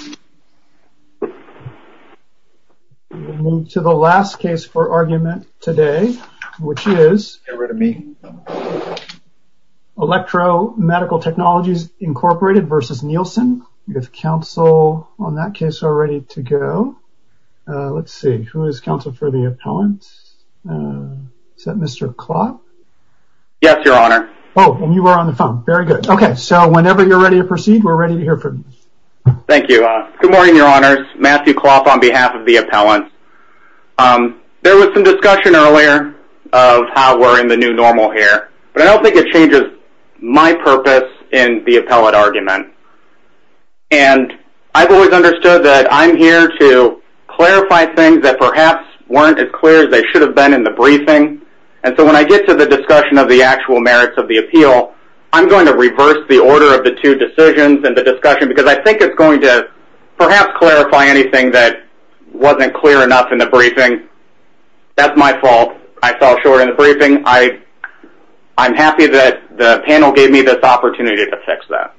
We will move to the last case for argument today, which is ElectroMedical Technologies Inc. v. Nielsen. If counsel on that case are ready to go. Let's see, who is counsel for the appellant? Is that Mr. Klott? Yes, your honor. Oh, and you are on the phone. Very good. Okay, so whenever you're ready to proceed, we're ready to hear from you. Thank you. I'm good morning, your honors. Matthew Klott on behalf of the appellant. There was some discussion earlier of how we're in the new normal here, but I don't think it changes my purpose in the appellate argument. And I've always understood that I'm here to clarify things that perhaps weren't as clear as they should have been in the briefing. And so when I get to the discussion of the actual merits of the appeal, I'm going to reverse the order of the two decisions and the discussion, because I think it's going to perhaps clarify anything that wasn't clear enough in the briefing. That's my fault. I fell short in the briefing. I'm happy that the panel gave me this opportunity to fix that.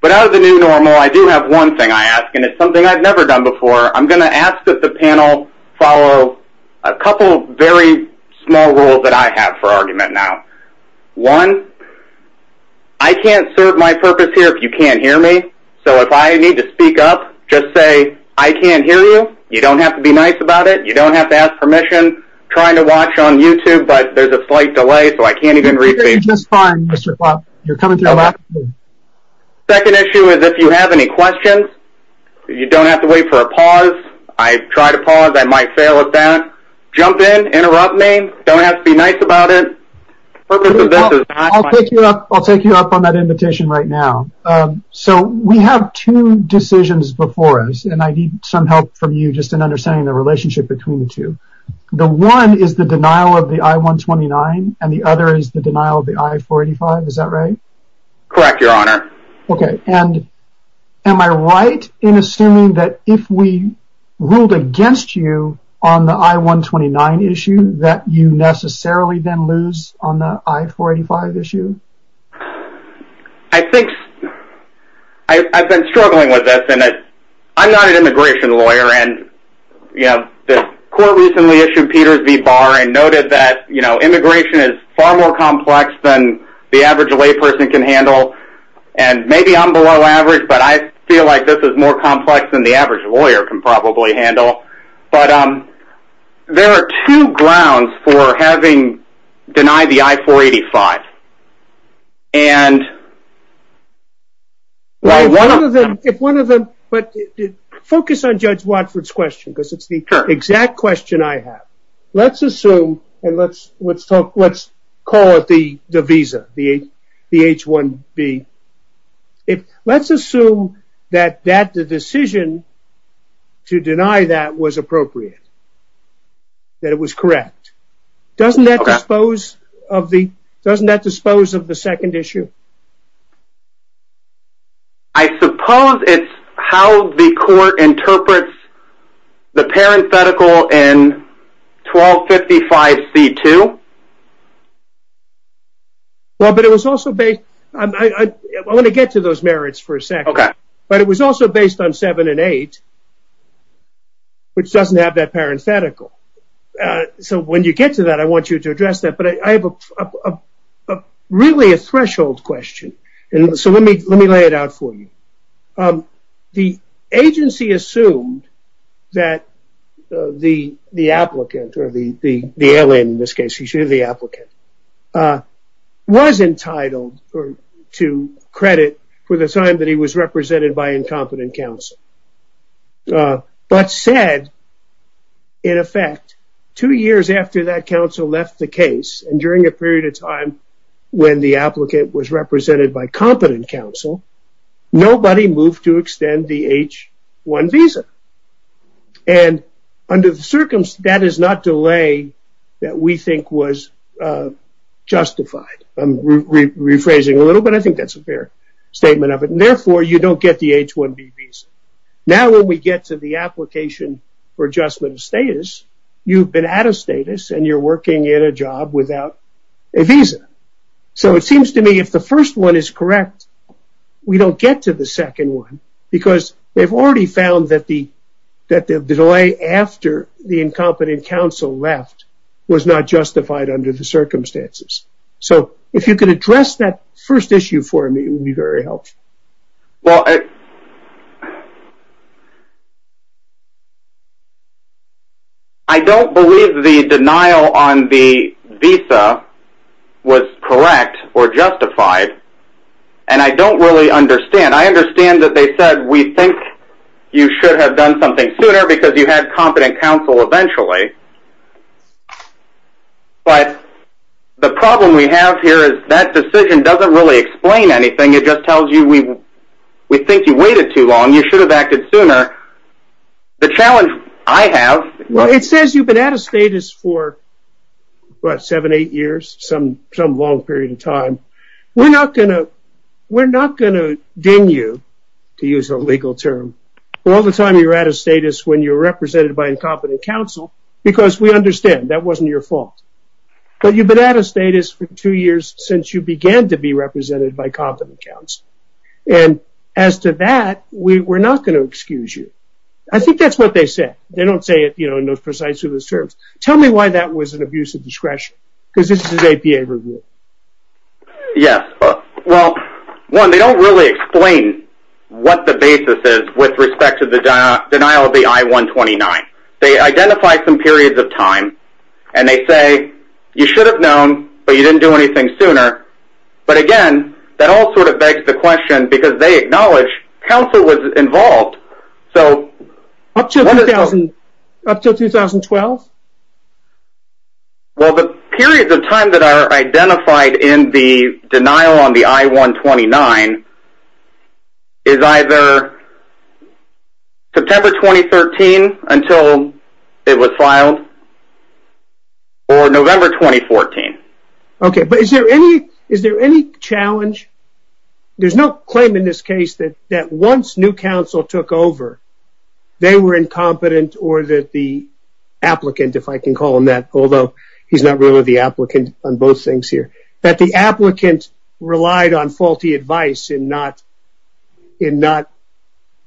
But out of the new normal, I do have one thing I ask, and it's something I've never done before. I'm going to ask that the panel follow a couple very small rules that I have for argument now. One, I can't serve my purpose here if you can't hear me. So if I need to speak up, just say, I can't hear you. You don't have to be nice about it. You don't have to ask permission, trying to watch on YouTube, but there's a slight delay. So I can't even read the second issue is if you have any questions, you don't have to wait for a pause. I tried to pause I might fail at that. Jump in interrupt me don't have to be nice about it. I'll take you up on that invitation right now. So we have two decisions before us. And I need some help from you just in understanding the relationship between the two. The one is the denial of the I-129 and the other is the denial of the I-485. Is that right? Correct, your honor. Okay. And am I right in assuming that if we ruled against you on the I-129 issue that you necessarily then lose on the I-485 issue? I think I've been struggling with this and I'm not an immigration lawyer and you know, the court recently issued Peters v. Barr and noted that, you know, immigration is far more complex than the average lay person can handle. And maybe I'm below average, but I feel like this is more complex than the average lawyer can probably handle. But there are two grounds for having denied the I-485. And if one of them, but focus on Judge Watford's question because it's the exact question I have. Let's assume and let's talk, let's call it the visa, the H-1B. Let's assume that the decision to deny that was appropriate. That it was correct. Doesn't that dispose of the, doesn't that dispose of the second issue? I suppose it's how the court interprets the parenthetical in 1255 C-2. Well, but it was also based, I want to get to those merits for a second, but it was also based on seven and eight, which doesn't have that parenthetical. So when you get to that, I want you to address that, but I have a really a threshold question. And so let me, let me lay it out for you. The agency assumed that the, the applicant or the, the alien in this case, you should hear the applicant, was entitled to credit for the time that he was represented by incompetent counsel. But said, in effect, two years after that counsel left the case and during a period of time when the applicant was represented by competent counsel, nobody moved to extend the H-1 visa. And under the circumstance, that is not delay that we think was justified. I'm rephrasing a little, but I think that's a fair statement of it. And we don't get the H-1B visa. Now when we get to the application for adjustment of status, you've been out of status and you're working at a job without a visa. So it seems to me if the first one is correct, we don't get to the second one because they've already found that the, that the delay after the incompetent counsel left was not justified under the circumstances. So if you could address that first issue for me, it would be very helpful. I don't believe the denial on the visa was correct or justified. And I don't really understand. I understand that they said, we think you should have done something sooner because you had competent counsel eventually. But the problem we have here is that decision doesn't really explain anything. It just tells you we, we think you waited too long. You should have acted sooner. The challenge I have, well, it says you've been out of status for what, seven, eight years, some, some long period of time. We're not going to, we're not going to excuse you for being represented by incompetent counsel because we understand that wasn't your fault. But you've been out of status for two years since you began to be represented by competent counsel. And as to that, we, we're not going to excuse you. I think that's what they said. They don't say it, you know, in those precise terms. Tell me why that was an abuse of discretion because this is an APA review. Yes. Well, one, they don't really explain what the basis is with respect to the denial of the I-129. They identify some periods of time and they say, you should have known, but you didn't do anything sooner. But again, that all sort of begs the question because they acknowledge counsel was involved. So up to 2000, up to 2012, well, the periods of time that are identified in the denial on the I-129 is either September 29th, 2012 to 2013 until it was filed or November 2014. Okay. But is there any, is there any challenge? There's no claim in this case that once new counsel took over, they were incompetent or that the applicant, if I can call him that, although he's not really the applicant on both things here, that the applicant relied on faulty advice in not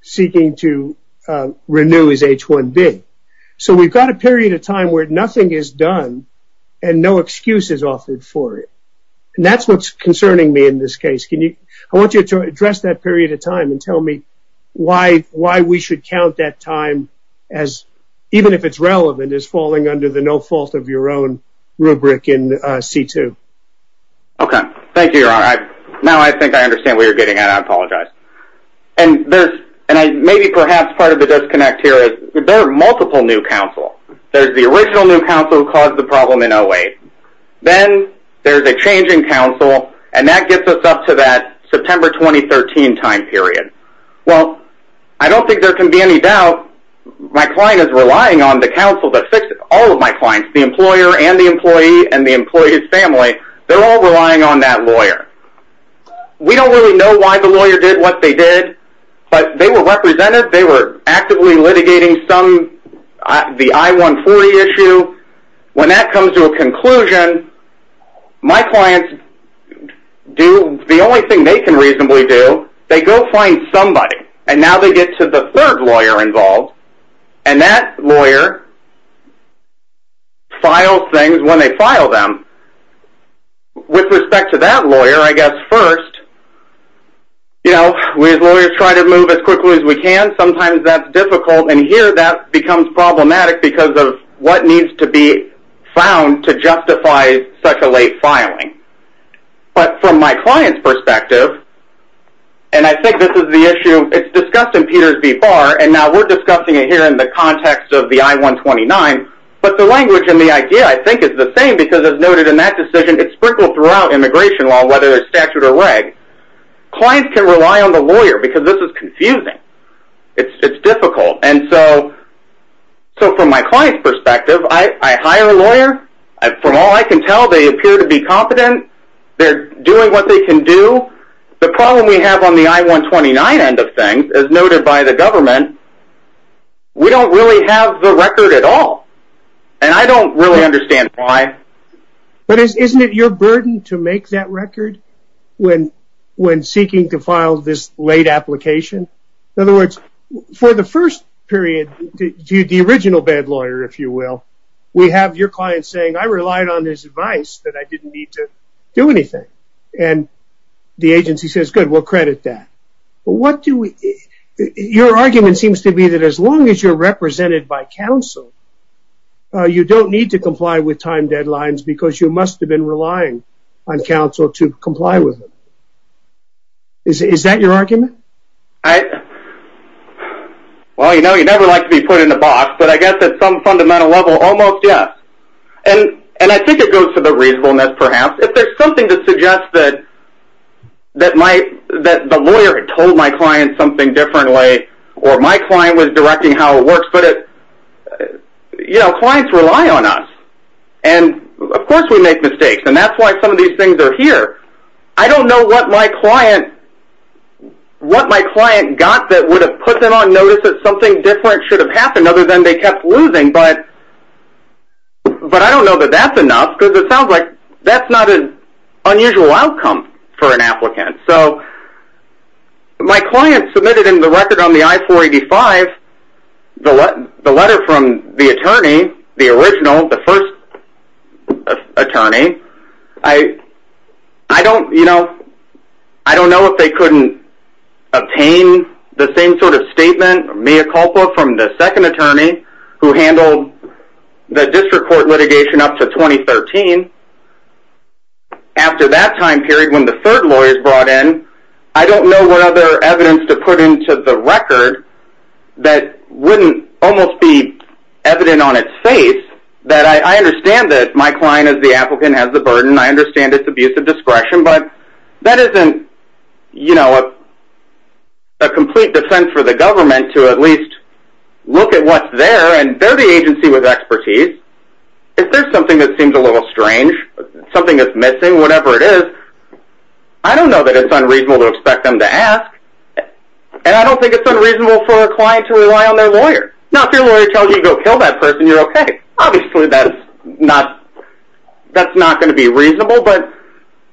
seeking to renew his H-1B. So we've got a period of time where nothing is done and no excuse is offered for it. And that's what's concerning me in this case. Can you, I want you to address that period of time and tell me why we should count that time as, even if it's relevant, as falling under the no fault of your own rubric in C-2. Okay. Thank you, Your Honor. Now I think I understand where you're getting at. I apologize. And there's, and I, maybe perhaps part of the disconnect here is there are multiple new counsel. There's the original new counsel who caused the problem in 08. Then there's a change in counsel and that gets us up to that September 2013 time period. Well, I don't think there can be any doubt my client is relying on the counsel to fix all of my clients, the employer and the employee and the employee's family. They're all relying on that lawyer. We don't really know why the lawyer did what they did, but they were represented. They were actively litigating some, the I-140 issue. When that comes to a conclusion, my clients do, the only thing they can reasonably do, they go find somebody. And now they get to the third lawyer involved and that lawyer files things when they file them. With respect to that lawyer, I guess first, you know, we as lawyers try to move as quickly as we can. Sometimes that's difficult and here that becomes problematic because of what needs to be found to justify such a late filing. But from my client's perspective, and I think this is the issue, it's discussed in Peters v. Barr and now we're discussing it here in the context of the I-129, but the language and the idea I think is the same because as noted in that decision, it's sprinkled throughout immigration law whether it's statute or reg. Clients can rely on the lawyer because this is confusing. It's difficult. And so from my client's perspective, I hire a lawyer. From all I can tell, they appear to be competent. They're doing what they can do. The problem we have on the I-129 end of things, as noted by the government, we don't really have the record at all. And I don't really understand why. But isn't it your burden to make that record when seeking to file this late application? In other words, for the first period, the original bad lawyer, if you will, we have your client saying, I relied on his advice that I didn't need to do anything. And the agency says, good, we'll credit that. But what do we – your argument seems to be that as long as you're represented by counsel, you don't need to comply with time deadlines because you must have been relying on counsel to comply with it. Is that your argument? Well, you know, you never like to be put in a box. But I guess at some fundamental level, almost, yes. And I think it goes to the reasonableness, perhaps. If there's something to suggest that my – that the lawyer had told my client something differently or my client was directing how it works, but it – you know, clients rely on us. And of course we make mistakes. And that's why some of these things are here. I don't know what my client – what my client got that would have put them on notice that something different should have happened other than they kept losing. But I don't know that that's enough because it sounds like that's not an unusual outcome for an applicant. So my client submitted in the record on the I-485 the letter from the attorney, the original, the first attorney, I – I don't – you know, I don't know if they couldn't obtain the same sort of statement, mea culpa, from the second attorney who handled the district court litigation up to 2013. After that time period when the third lawyer is brought in, I don't know what other evidence to put into the record that wouldn't almost be evident on its face that I – I understand that my client is the applicant, has the burden, I understand its abuse of discretion, but that isn't, you know, a complete defense for the government to at least look at what's there. And they're the agency with expertise. If there's something that seems a little strange, something that's missing, whatever it is, I don't know that it's unreasonable to expect them to ask. And I don't think it's unreasonable for a client to rely on their lawyer. Now if your lawyer tells you to go kill that person, you're like, okay, obviously that's not – that's not going to be reasonable, but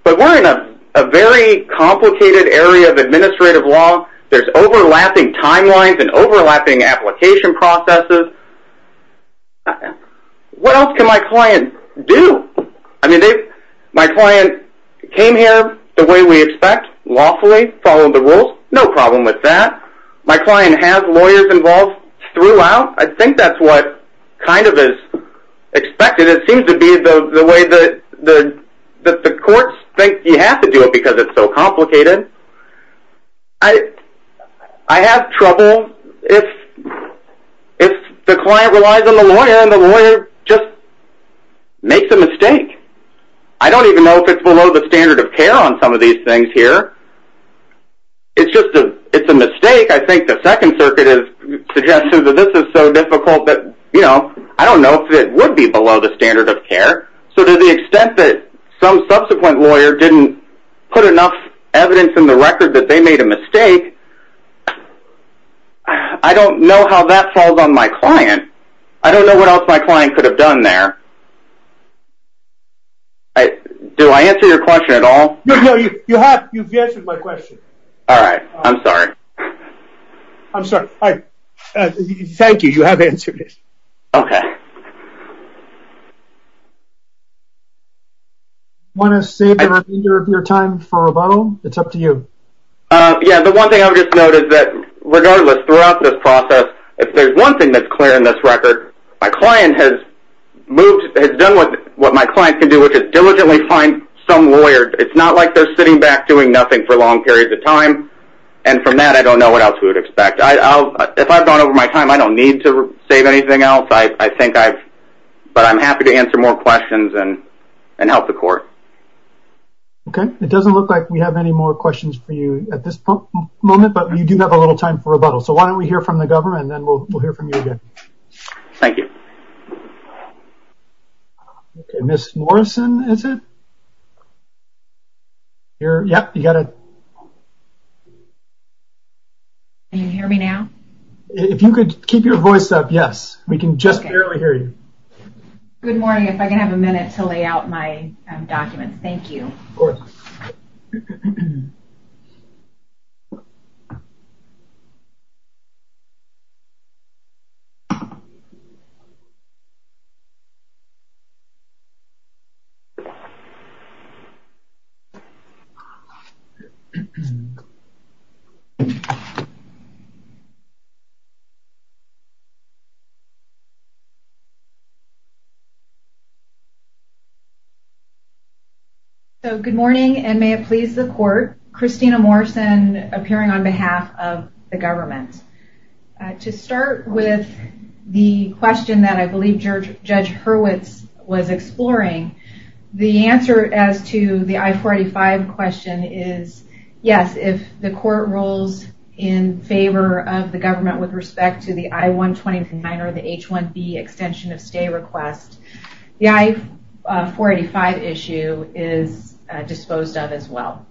we're in a very complicated area of administrative law. There's overlapping timelines and overlapping application processes. What else can my client do? I mean, if my client came here the way we expect, lawfully, following the rules, no problem with that. My client has lawyers involved throughout. I think that's what kind of is expected. It seems to be the way that the courts think you have to do it because it's so complicated. I have trouble if the client relies on the lawyer and the lawyer just makes a mistake. I don't even know if it's below the standard of care on some of these things here. It's just a – it's a mistake. I think the Second Circuit has suggested that this is so difficult that, you know, I don't know if it would be below the standard of care. So to the extent that some subsequent lawyer didn't put enough evidence in the record that they made a mistake, I don't know how that falls on my client. I don't know what else my client could have done there. Do I answer your question at all? No, you have. You've answered my question. All right. I'm sorry. I'm sorry. Thank you. You have answered it. Okay. Want to save the remainder of your time for rebuttal? It's up to you. Yeah, the one thing I would just note is that, regardless, throughout this process, if there's one thing that's clear in this record, my client has moved – has done what my client can do, which is diligently find some lawyer. It's not like they're sitting back doing nothing for long periods of time. And from that, I don't know what else we would expect. If I've gone over my time, I don't need to save anything else. I think I've – but I'm happy to answer more questions and help the court. Okay. It doesn't look like we have any more questions for you at this moment, but you do have a little time for rebuttal. So why don't we hear from the government, and then we'll hear from you again. Thank you. Okay. Ms. Morrison, is it? You're – yep, you got it. Can you hear me now? If you could keep your voice up, yes. We can just barely hear you. Good morning. If I can have a minute to lay out my document. Thank you. Of course. Okay. So good morning, and may it please the court. Christina Morrison, appearing on behalf of the government. To start with the question that I believe Judge Hurwitz was exploring, the answer as to the I-485 question is yes, if the court rules in favor of the government with respect to the I-129 or the H-1B extension of stay request, the I-485 issue is disposed of as well.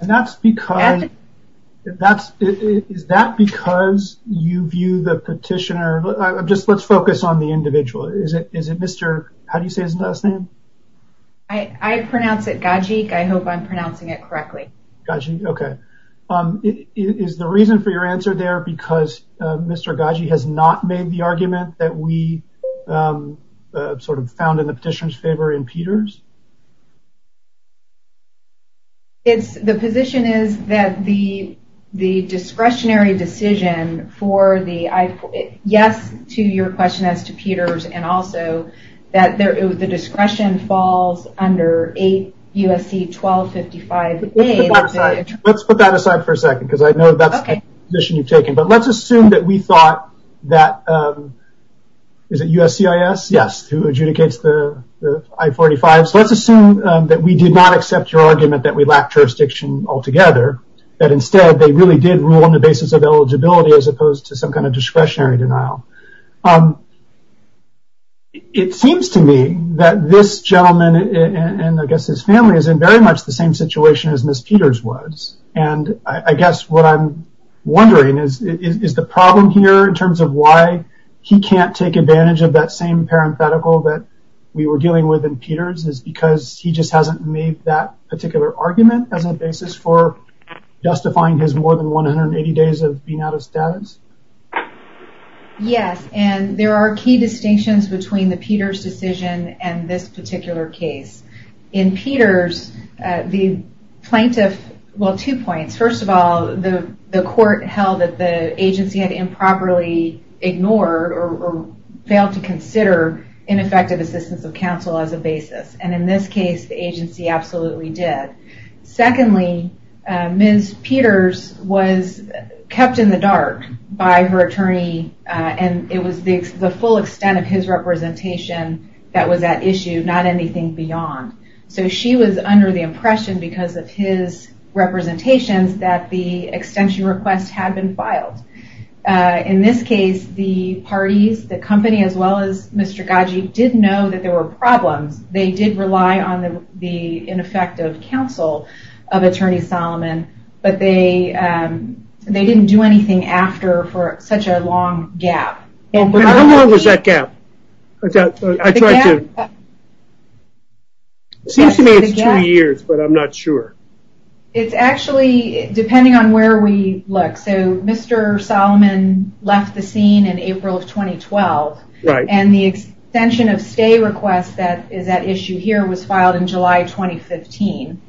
And that's because – is that because you view the petitioner – just let's focus on the individual. Is it Mr. – how do you say his last name? I pronounce it Gajik. I hope I'm pronouncing it correctly. Gajik, okay. Is the reason for your answer there because Mr. Gajik has not made the argument that we sort of found in the petitioner's favor in Peters? It's – the position is that the discretionary decision for the – yes to your question as to Peters, and also that the discretion falls under 8 U.S.C. 1255A. Let's put that aside for a second because I know that's the position you've taken. But let's assume that we thought that – is it USCIS? Yes, who adjudicates the I-485s. Let's assume that we did not accept your argument that we lack jurisdiction altogether, that instead they really did rule on the basis of eligibility as opposed to some kind of discretionary denial. It seems to me that this gentleman and I guess his family is in very much the same situation as Ms. Peters was, and I guess what I'm wondering is, is the problem here in terms of why he can't take advantage of that same parenthetical that we were dealing with in Peters is because he just hasn't made that particular argument as a basis for justifying his more than 180 days of being out of status? Yes, and there are key distinctions between the Peters decision and this particular case. In Peters, the plaintiff – well, two points. First of all, the court held that the agency had improperly ignored or failed to consider ineffective assistance of counsel as a basis, and in this case, the agency absolutely did. Secondly, Ms. Peters was kept in the dark by her attorney, and it was the full extent of his representation that was at issue, not anything beyond. So she was under the impression because of his representations that the extension request had been filed. In this case, the parties, the company as well as Mr. Gaggi, did know that there were problems. They did rely on the ineffective counsel of Attorney Solomon, but they didn't do anything after for such a long gap. How long was that gap? It seems to me it's two years, but I'm not sure. It's actually depending on where we look. Mr. Solomon left the scene in April of 2012, and the extension of stay request that is at issue here was filed in July 2015.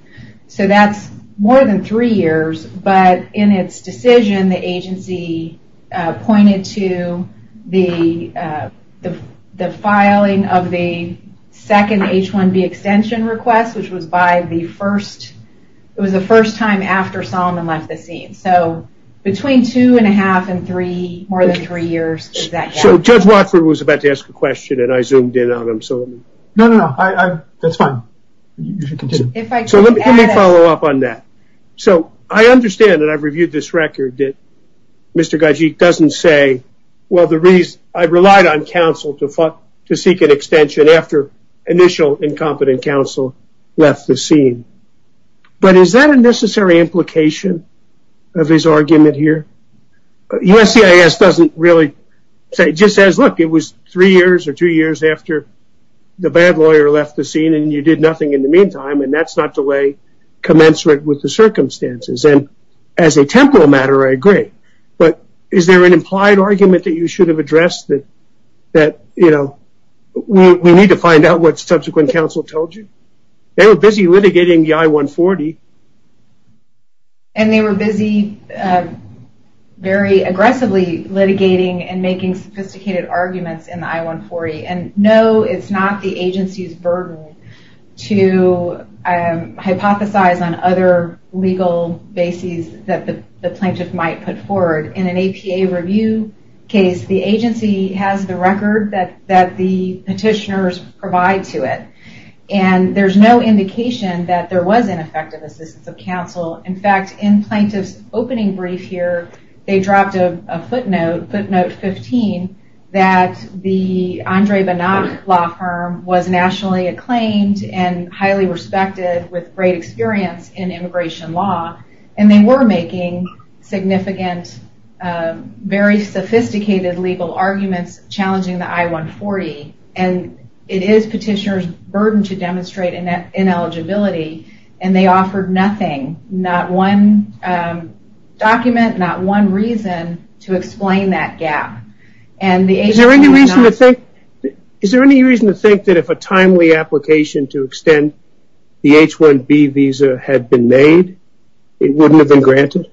So that's more than three years, but in its decision, the agency pointed to the filing of the second H-1B extension request, which was the first time after Solomon left the scene. So between two and a half and three, more than three years. So Judge Watford was about to ask a question, and I zoomed in on him. No, no, no. That's fine. So let me follow up on that. So I understand that I've reviewed this record that Mr. Gaggi doesn't say, well, I relied on counsel to seek an extension after initial incompetent counsel left the scene. But is that a necessary implication of his argument here? USCIS doesn't really say, just says, look, it was three years or two years after the And that's not to lay commensurate with the circumstances. And as a temporal matter, I agree. But is there an implied argument that you should have addressed that we need to find out what subsequent counsel told you? They were busy litigating the I-140. And they were busy very aggressively litigating and making sophisticated arguments in the I-140. And no, it's not the agency's burden to hypothesize on other legal bases that the plaintiff might put forward. In an APA review case, the agency has the record that the petitioners provide to it. And there's no indication that there was ineffective assistance of counsel. In fact, in plaintiff's opening brief here, they dropped a footnote, footnote 15, that the Andre Banach law firm was nationally acclaimed and highly respected with great experience in immigration law. And they were making significant, very sophisticated legal arguments challenging the I-140. And it is petitioner's burden to demonstrate ineligibility. And they offered nothing, not one document, not one reason to explain that gap. Is there any reason to think that if a timely application to extend the H-1B visa had been made, it wouldn't have been granted? Is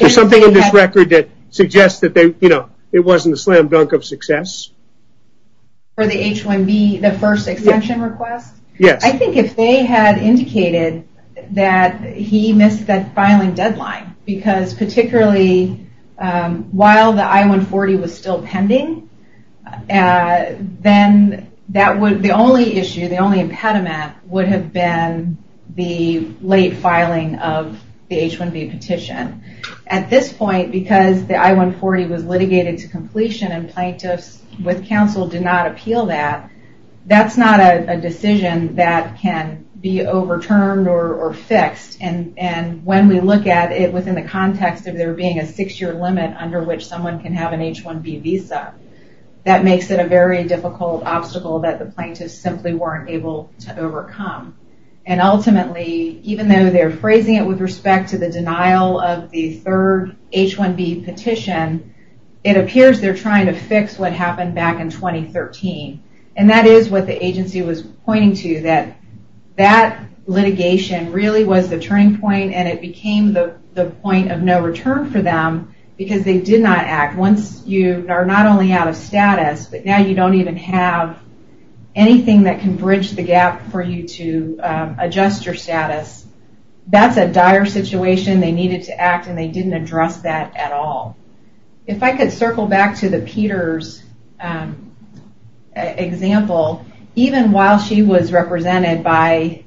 there something in this record that suggests that it wasn't a slam dunk of success? For the H-1B, the first extension request? Yes. I think if they had indicated that he missed that filing deadline, because particularly while the I-140 was still pending, then the only issue, the only impediment would have been the late filing of the H-1B petition. At this point, because the I-140 was litigated to completion and plaintiffs with counsel did not appeal that, that's not a decision that can be overturned or fixed. And when we look at it within the context of there being a six-year limit under which someone can have an H-1B visa, that makes it a very difficult obstacle that the plaintiffs simply weren't able to overcome. And ultimately, even though they're phrasing it with respect to the denial of the third H-1B petition, it appears they're trying to fix what happened back in 2013. And that is what the agency was pointing to, that that litigation really was the turning point and it became the point of no return for them because they did not act. Once you are not only out of status, but now you don't even have anything that can bridge the gap for you to adjust your status, that's a dire situation. They needed to act and they didn't address that at all. If I could circle back to the Peters example, even while she was represented by,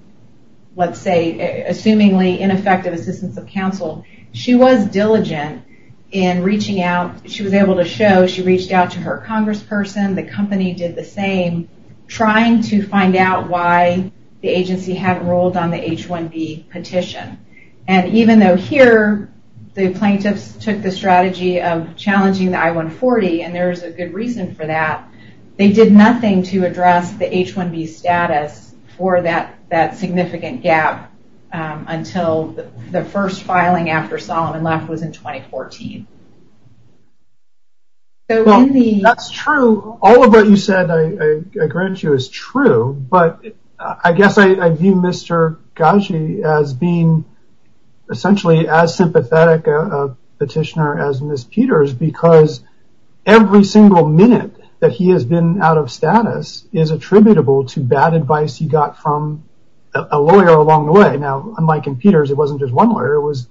let's say, assumingly ineffective assistance of counsel, she was diligent in reaching out. She was able to show she reached out to her congressperson, the company did the same, trying to find out why the agency hadn't ruled on the H-1B petition. And even though here the plaintiffs took the strategy of challenging the I-140, and there's a good reason for that, they did nothing to address the H-1B status for that significant gap until the first filing after Solomon left was in 2014. Well, that's true. All of what you said, I grant you, is true. But I guess I view Mr. Ghazi as being essentially as sympathetic a petitioner as Ms. Peters because every single minute that he has been out of status is attributable to bad advice he got from a lawyer along the way. Now, unlike in Peters, it wasn't just one lawyer. It was,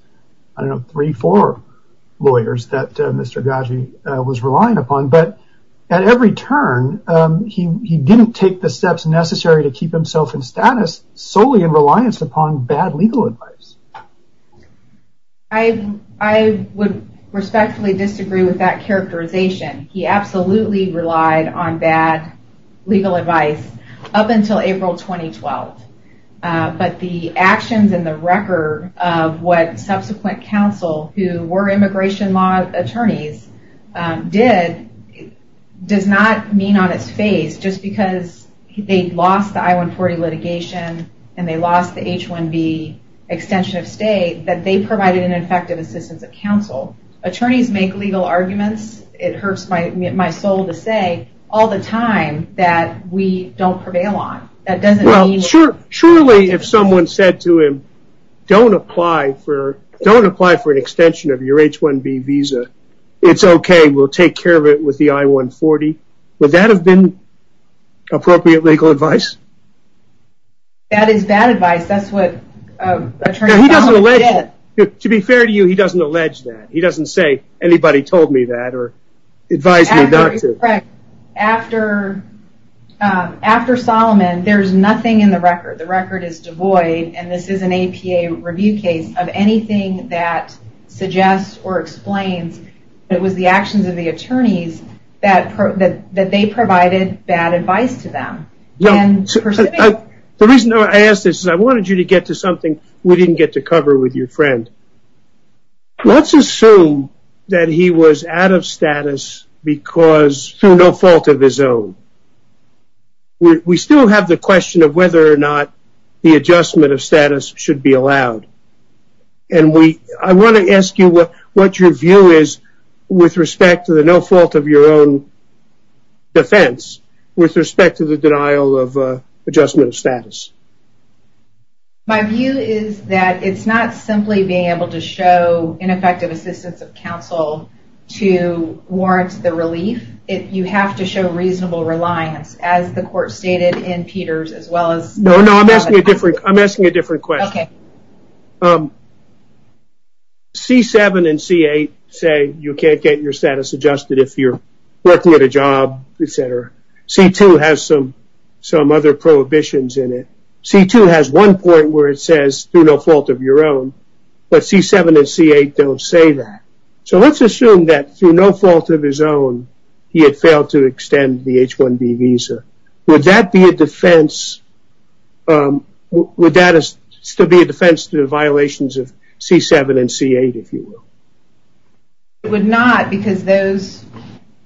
I don't know, three, four lawyers that Mr. Ghazi was relying upon. But at every turn, he didn't take the steps necessary to keep himself in status solely in reliance upon bad legal advice. I would respectfully disagree with that characterization. He absolutely relied on bad legal advice up until April 2012. But the actions and the record of what subsequent counsel who were immigration law attorneys did does not mean on its face, just because they lost the I-140 litigation and they lost the H-1B extension of state, that they provided ineffective assistance of counsel. Attorneys make legal arguments, it hurts my soul to say, all the time that we don't prevail on. Surely if someone said to him, don't apply for an extension of your H-1B visa, it's okay. We'll take care of it with the I-140. Would that have been appropriate legal advice? That is bad advice. That's what Attorney Solomon did. To be fair to you, he doesn't allege that. He doesn't say anybody told me that or advised me not to. Correct. After Solomon, there's nothing in the record. The record is devoid, and this is an APA review case, of anything that suggests or explains that it was the actions of the attorneys that they provided bad advice to them. The reason I ask this is I wanted you to get to something we didn't get to cover with your friend. Let's assume that he was out of status through no fault of his own. We still have the question of whether or not the adjustment of status should be allowed. I want to ask you what your view is with respect to the no fault of your own defense, with respect to the denial of adjustment of status. My view is that it's not simply being able to show ineffective assistance of counsel to warrant the relief. You have to show reasonable reliance, as the court stated in Peters, as well as- No, no, I'm asking a different question. Okay. C-7 and C-8 say you can't get your status adjusted if you're working at a job, et cetera. C-2 has some other prohibitions in it. C-2 has one point where it says do no fault of your own, but C-7 and C-8 don't say that. So let's assume that through no fault of his own, he had failed to extend the H-1B visa. Would that be a defense to the violations of C-7 and C-8, if you will? It would not, because those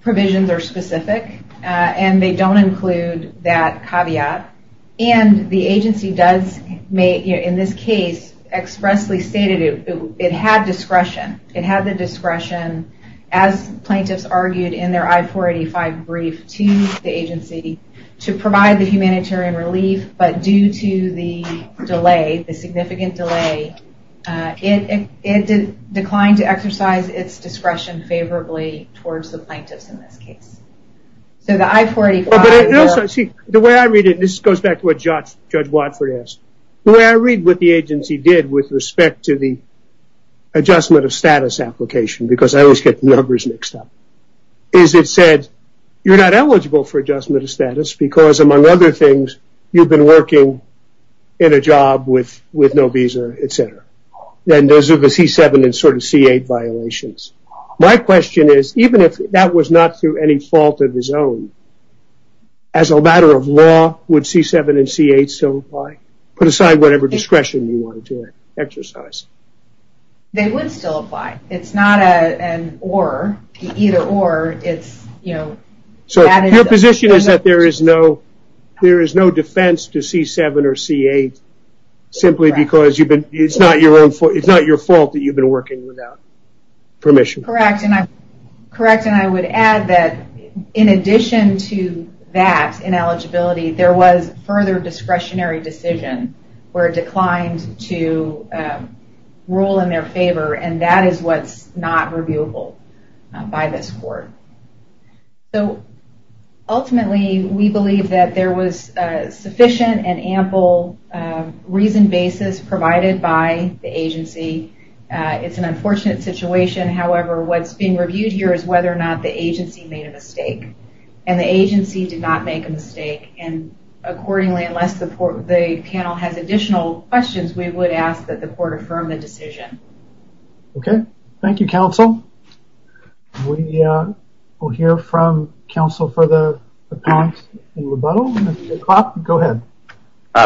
provisions are specific, and they don't include that caveat. And the agency does, in this case, expressly stated it had discretion. It had the discretion, as plaintiffs argued in their I-485 brief to the agency, to provide the humanitarian relief, but due to the delay, the significant delay, it declined to exercise its discretion favorably towards the plaintiffs in this case. So the I-485- See, the way I read it, and this goes back to what Judge Watford asked, the way I read what the agency did with respect to the adjustment of status application, because I always get numbers mixed up, is it said, you're not eligible for adjustment of status because, among other things, you've been working in a job with no visa, etc. And those are the C-7 and C-8 violations. My question is, even if that was not through any fault of his own, as a matter of law, would C-7 and C-8 still apply? Put aside whatever discretion you wanted to exercise. They would still apply. It's not an or, either or. So your position is that there is no defense to C-7 or C-8, simply because it's not your fault that you've been working without permission. Correct, and I would add that in addition to that ineligibility, there was further discretionary decision where it declined to rule in their favor, and that is what's not reviewable by this court. So ultimately, we believe that there was sufficient and ample reasoned basis provided by the agency. It's an unfortunate situation. However, what's being reviewed here is whether or not the agency made a mistake, and the agency did not make a mistake. And accordingly, unless the panel has additional questions, we would ask that the court affirm the decision. Okay. Thank you, counsel. We will hear from counsel for the comments and rebuttal. Mr. Klopp, go ahead.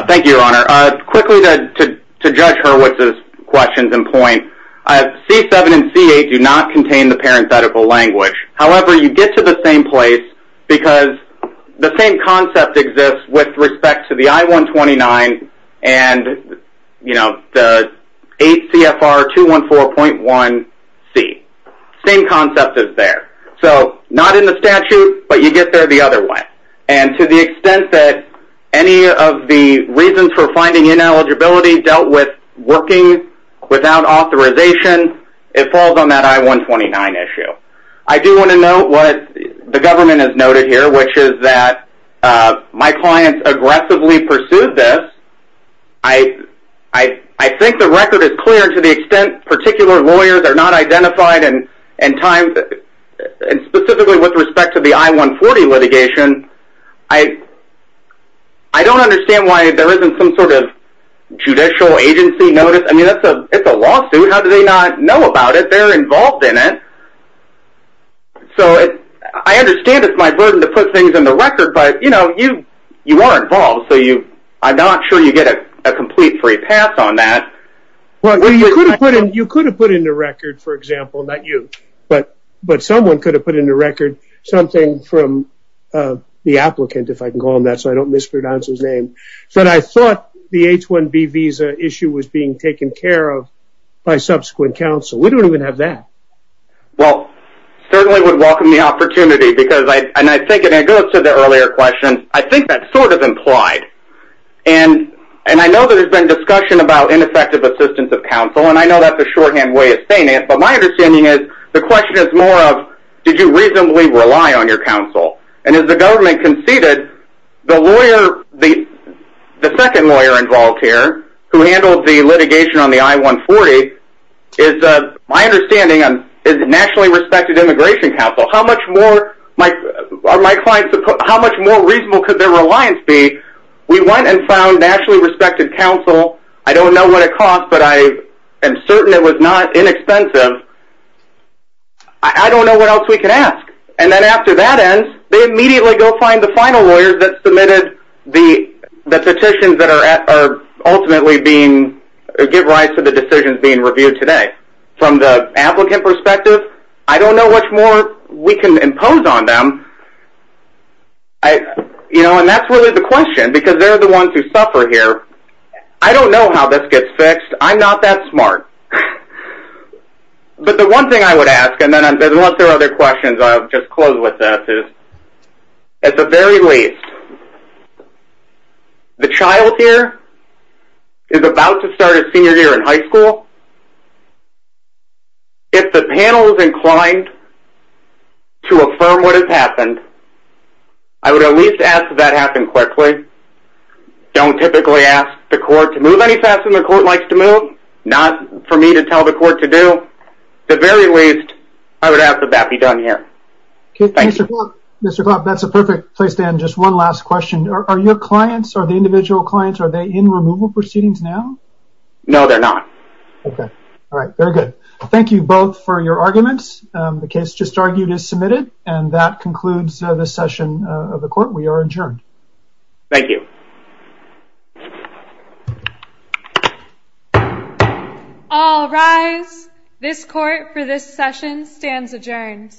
Thank you, Your Honor. Quickly, to judge Hurwitz's questions in point, C-7 and C-8 do not contain the parenthetical language. However, you get to the same place because the same concept exists with respect to the I-129 and, you know, the 8 CFR 214.1C. Same concept is there. So not in the statute, but you get there the other way. And to the extent that any of the reasons for finding ineligibility dealt with working without authorization, it falls on that I-129 issue. I do want to note what the government has noted here, which is that my clients aggressively pursued this. I think the record is clear to the extent particular lawyers are not identified and specifically with respect to the I-140 litigation. I don't understand why there isn't some sort of judicial agency notice. I mean, it's a lawsuit. How do they not know about it? They're involved in it. So I understand it's my burden to put things in the record, but, you know, you are involved, so I'm not sure you get a complete free pass on that. Well, you could have put in the record, for example, not you, but someone could have put in the record something from the applicant, if I can call him that, so I don't mispronounce his name, that I thought the H-1B visa issue was being taken care of by subsequent counsel. We don't even have that. Well, certainly would welcome the opportunity, because I think it goes to the earlier question, I think that's sort of implied. And I know that there's been discussion about ineffective assistance of counsel, and I know that's a shorthand way of saying it, but my understanding is the question is more of did you reasonably rely on your counsel? And as the government conceded, the second lawyer involved here, who handled the litigation on the I-140, is my understanding is nationally respected immigration counsel. How much more reasonable could their reliance be? We went and found nationally respected counsel. I don't know what it cost, but I am certain it was not inexpensive. I don't know what else we can ask. And then after that ends, they immediately go find the final lawyers that submitted the petitions that are ultimately give rise to the decisions being reviewed today. From the applicant perspective, I don't know much more we can impose on them. And that's really the question, because they're the ones who suffer here. I don't know how this gets fixed. I'm not that smart. But the one thing I would ask, and then unless there are other questions, I'll just close with this, is at the very least, the child here is about to start his senior year in high school. If the panel is inclined to affirm what has happened, I would at least ask that that happen quickly. Don't typically ask the court to move any faster than the court likes to move. Not for me to tell the court to do. So at the very least, I would ask that that be done here. Thank you. Mr. Klopp, that's a perfect place to end. Just one last question. Are your clients, are the individual clients, are they in removal proceedings now? No, they're not. Okay. All right. Very good. Thank you both for your arguments. The case just argued is submitted, and that concludes this session of the court. We are adjourned. Thank you. All rise. This court for this session stands adjourned.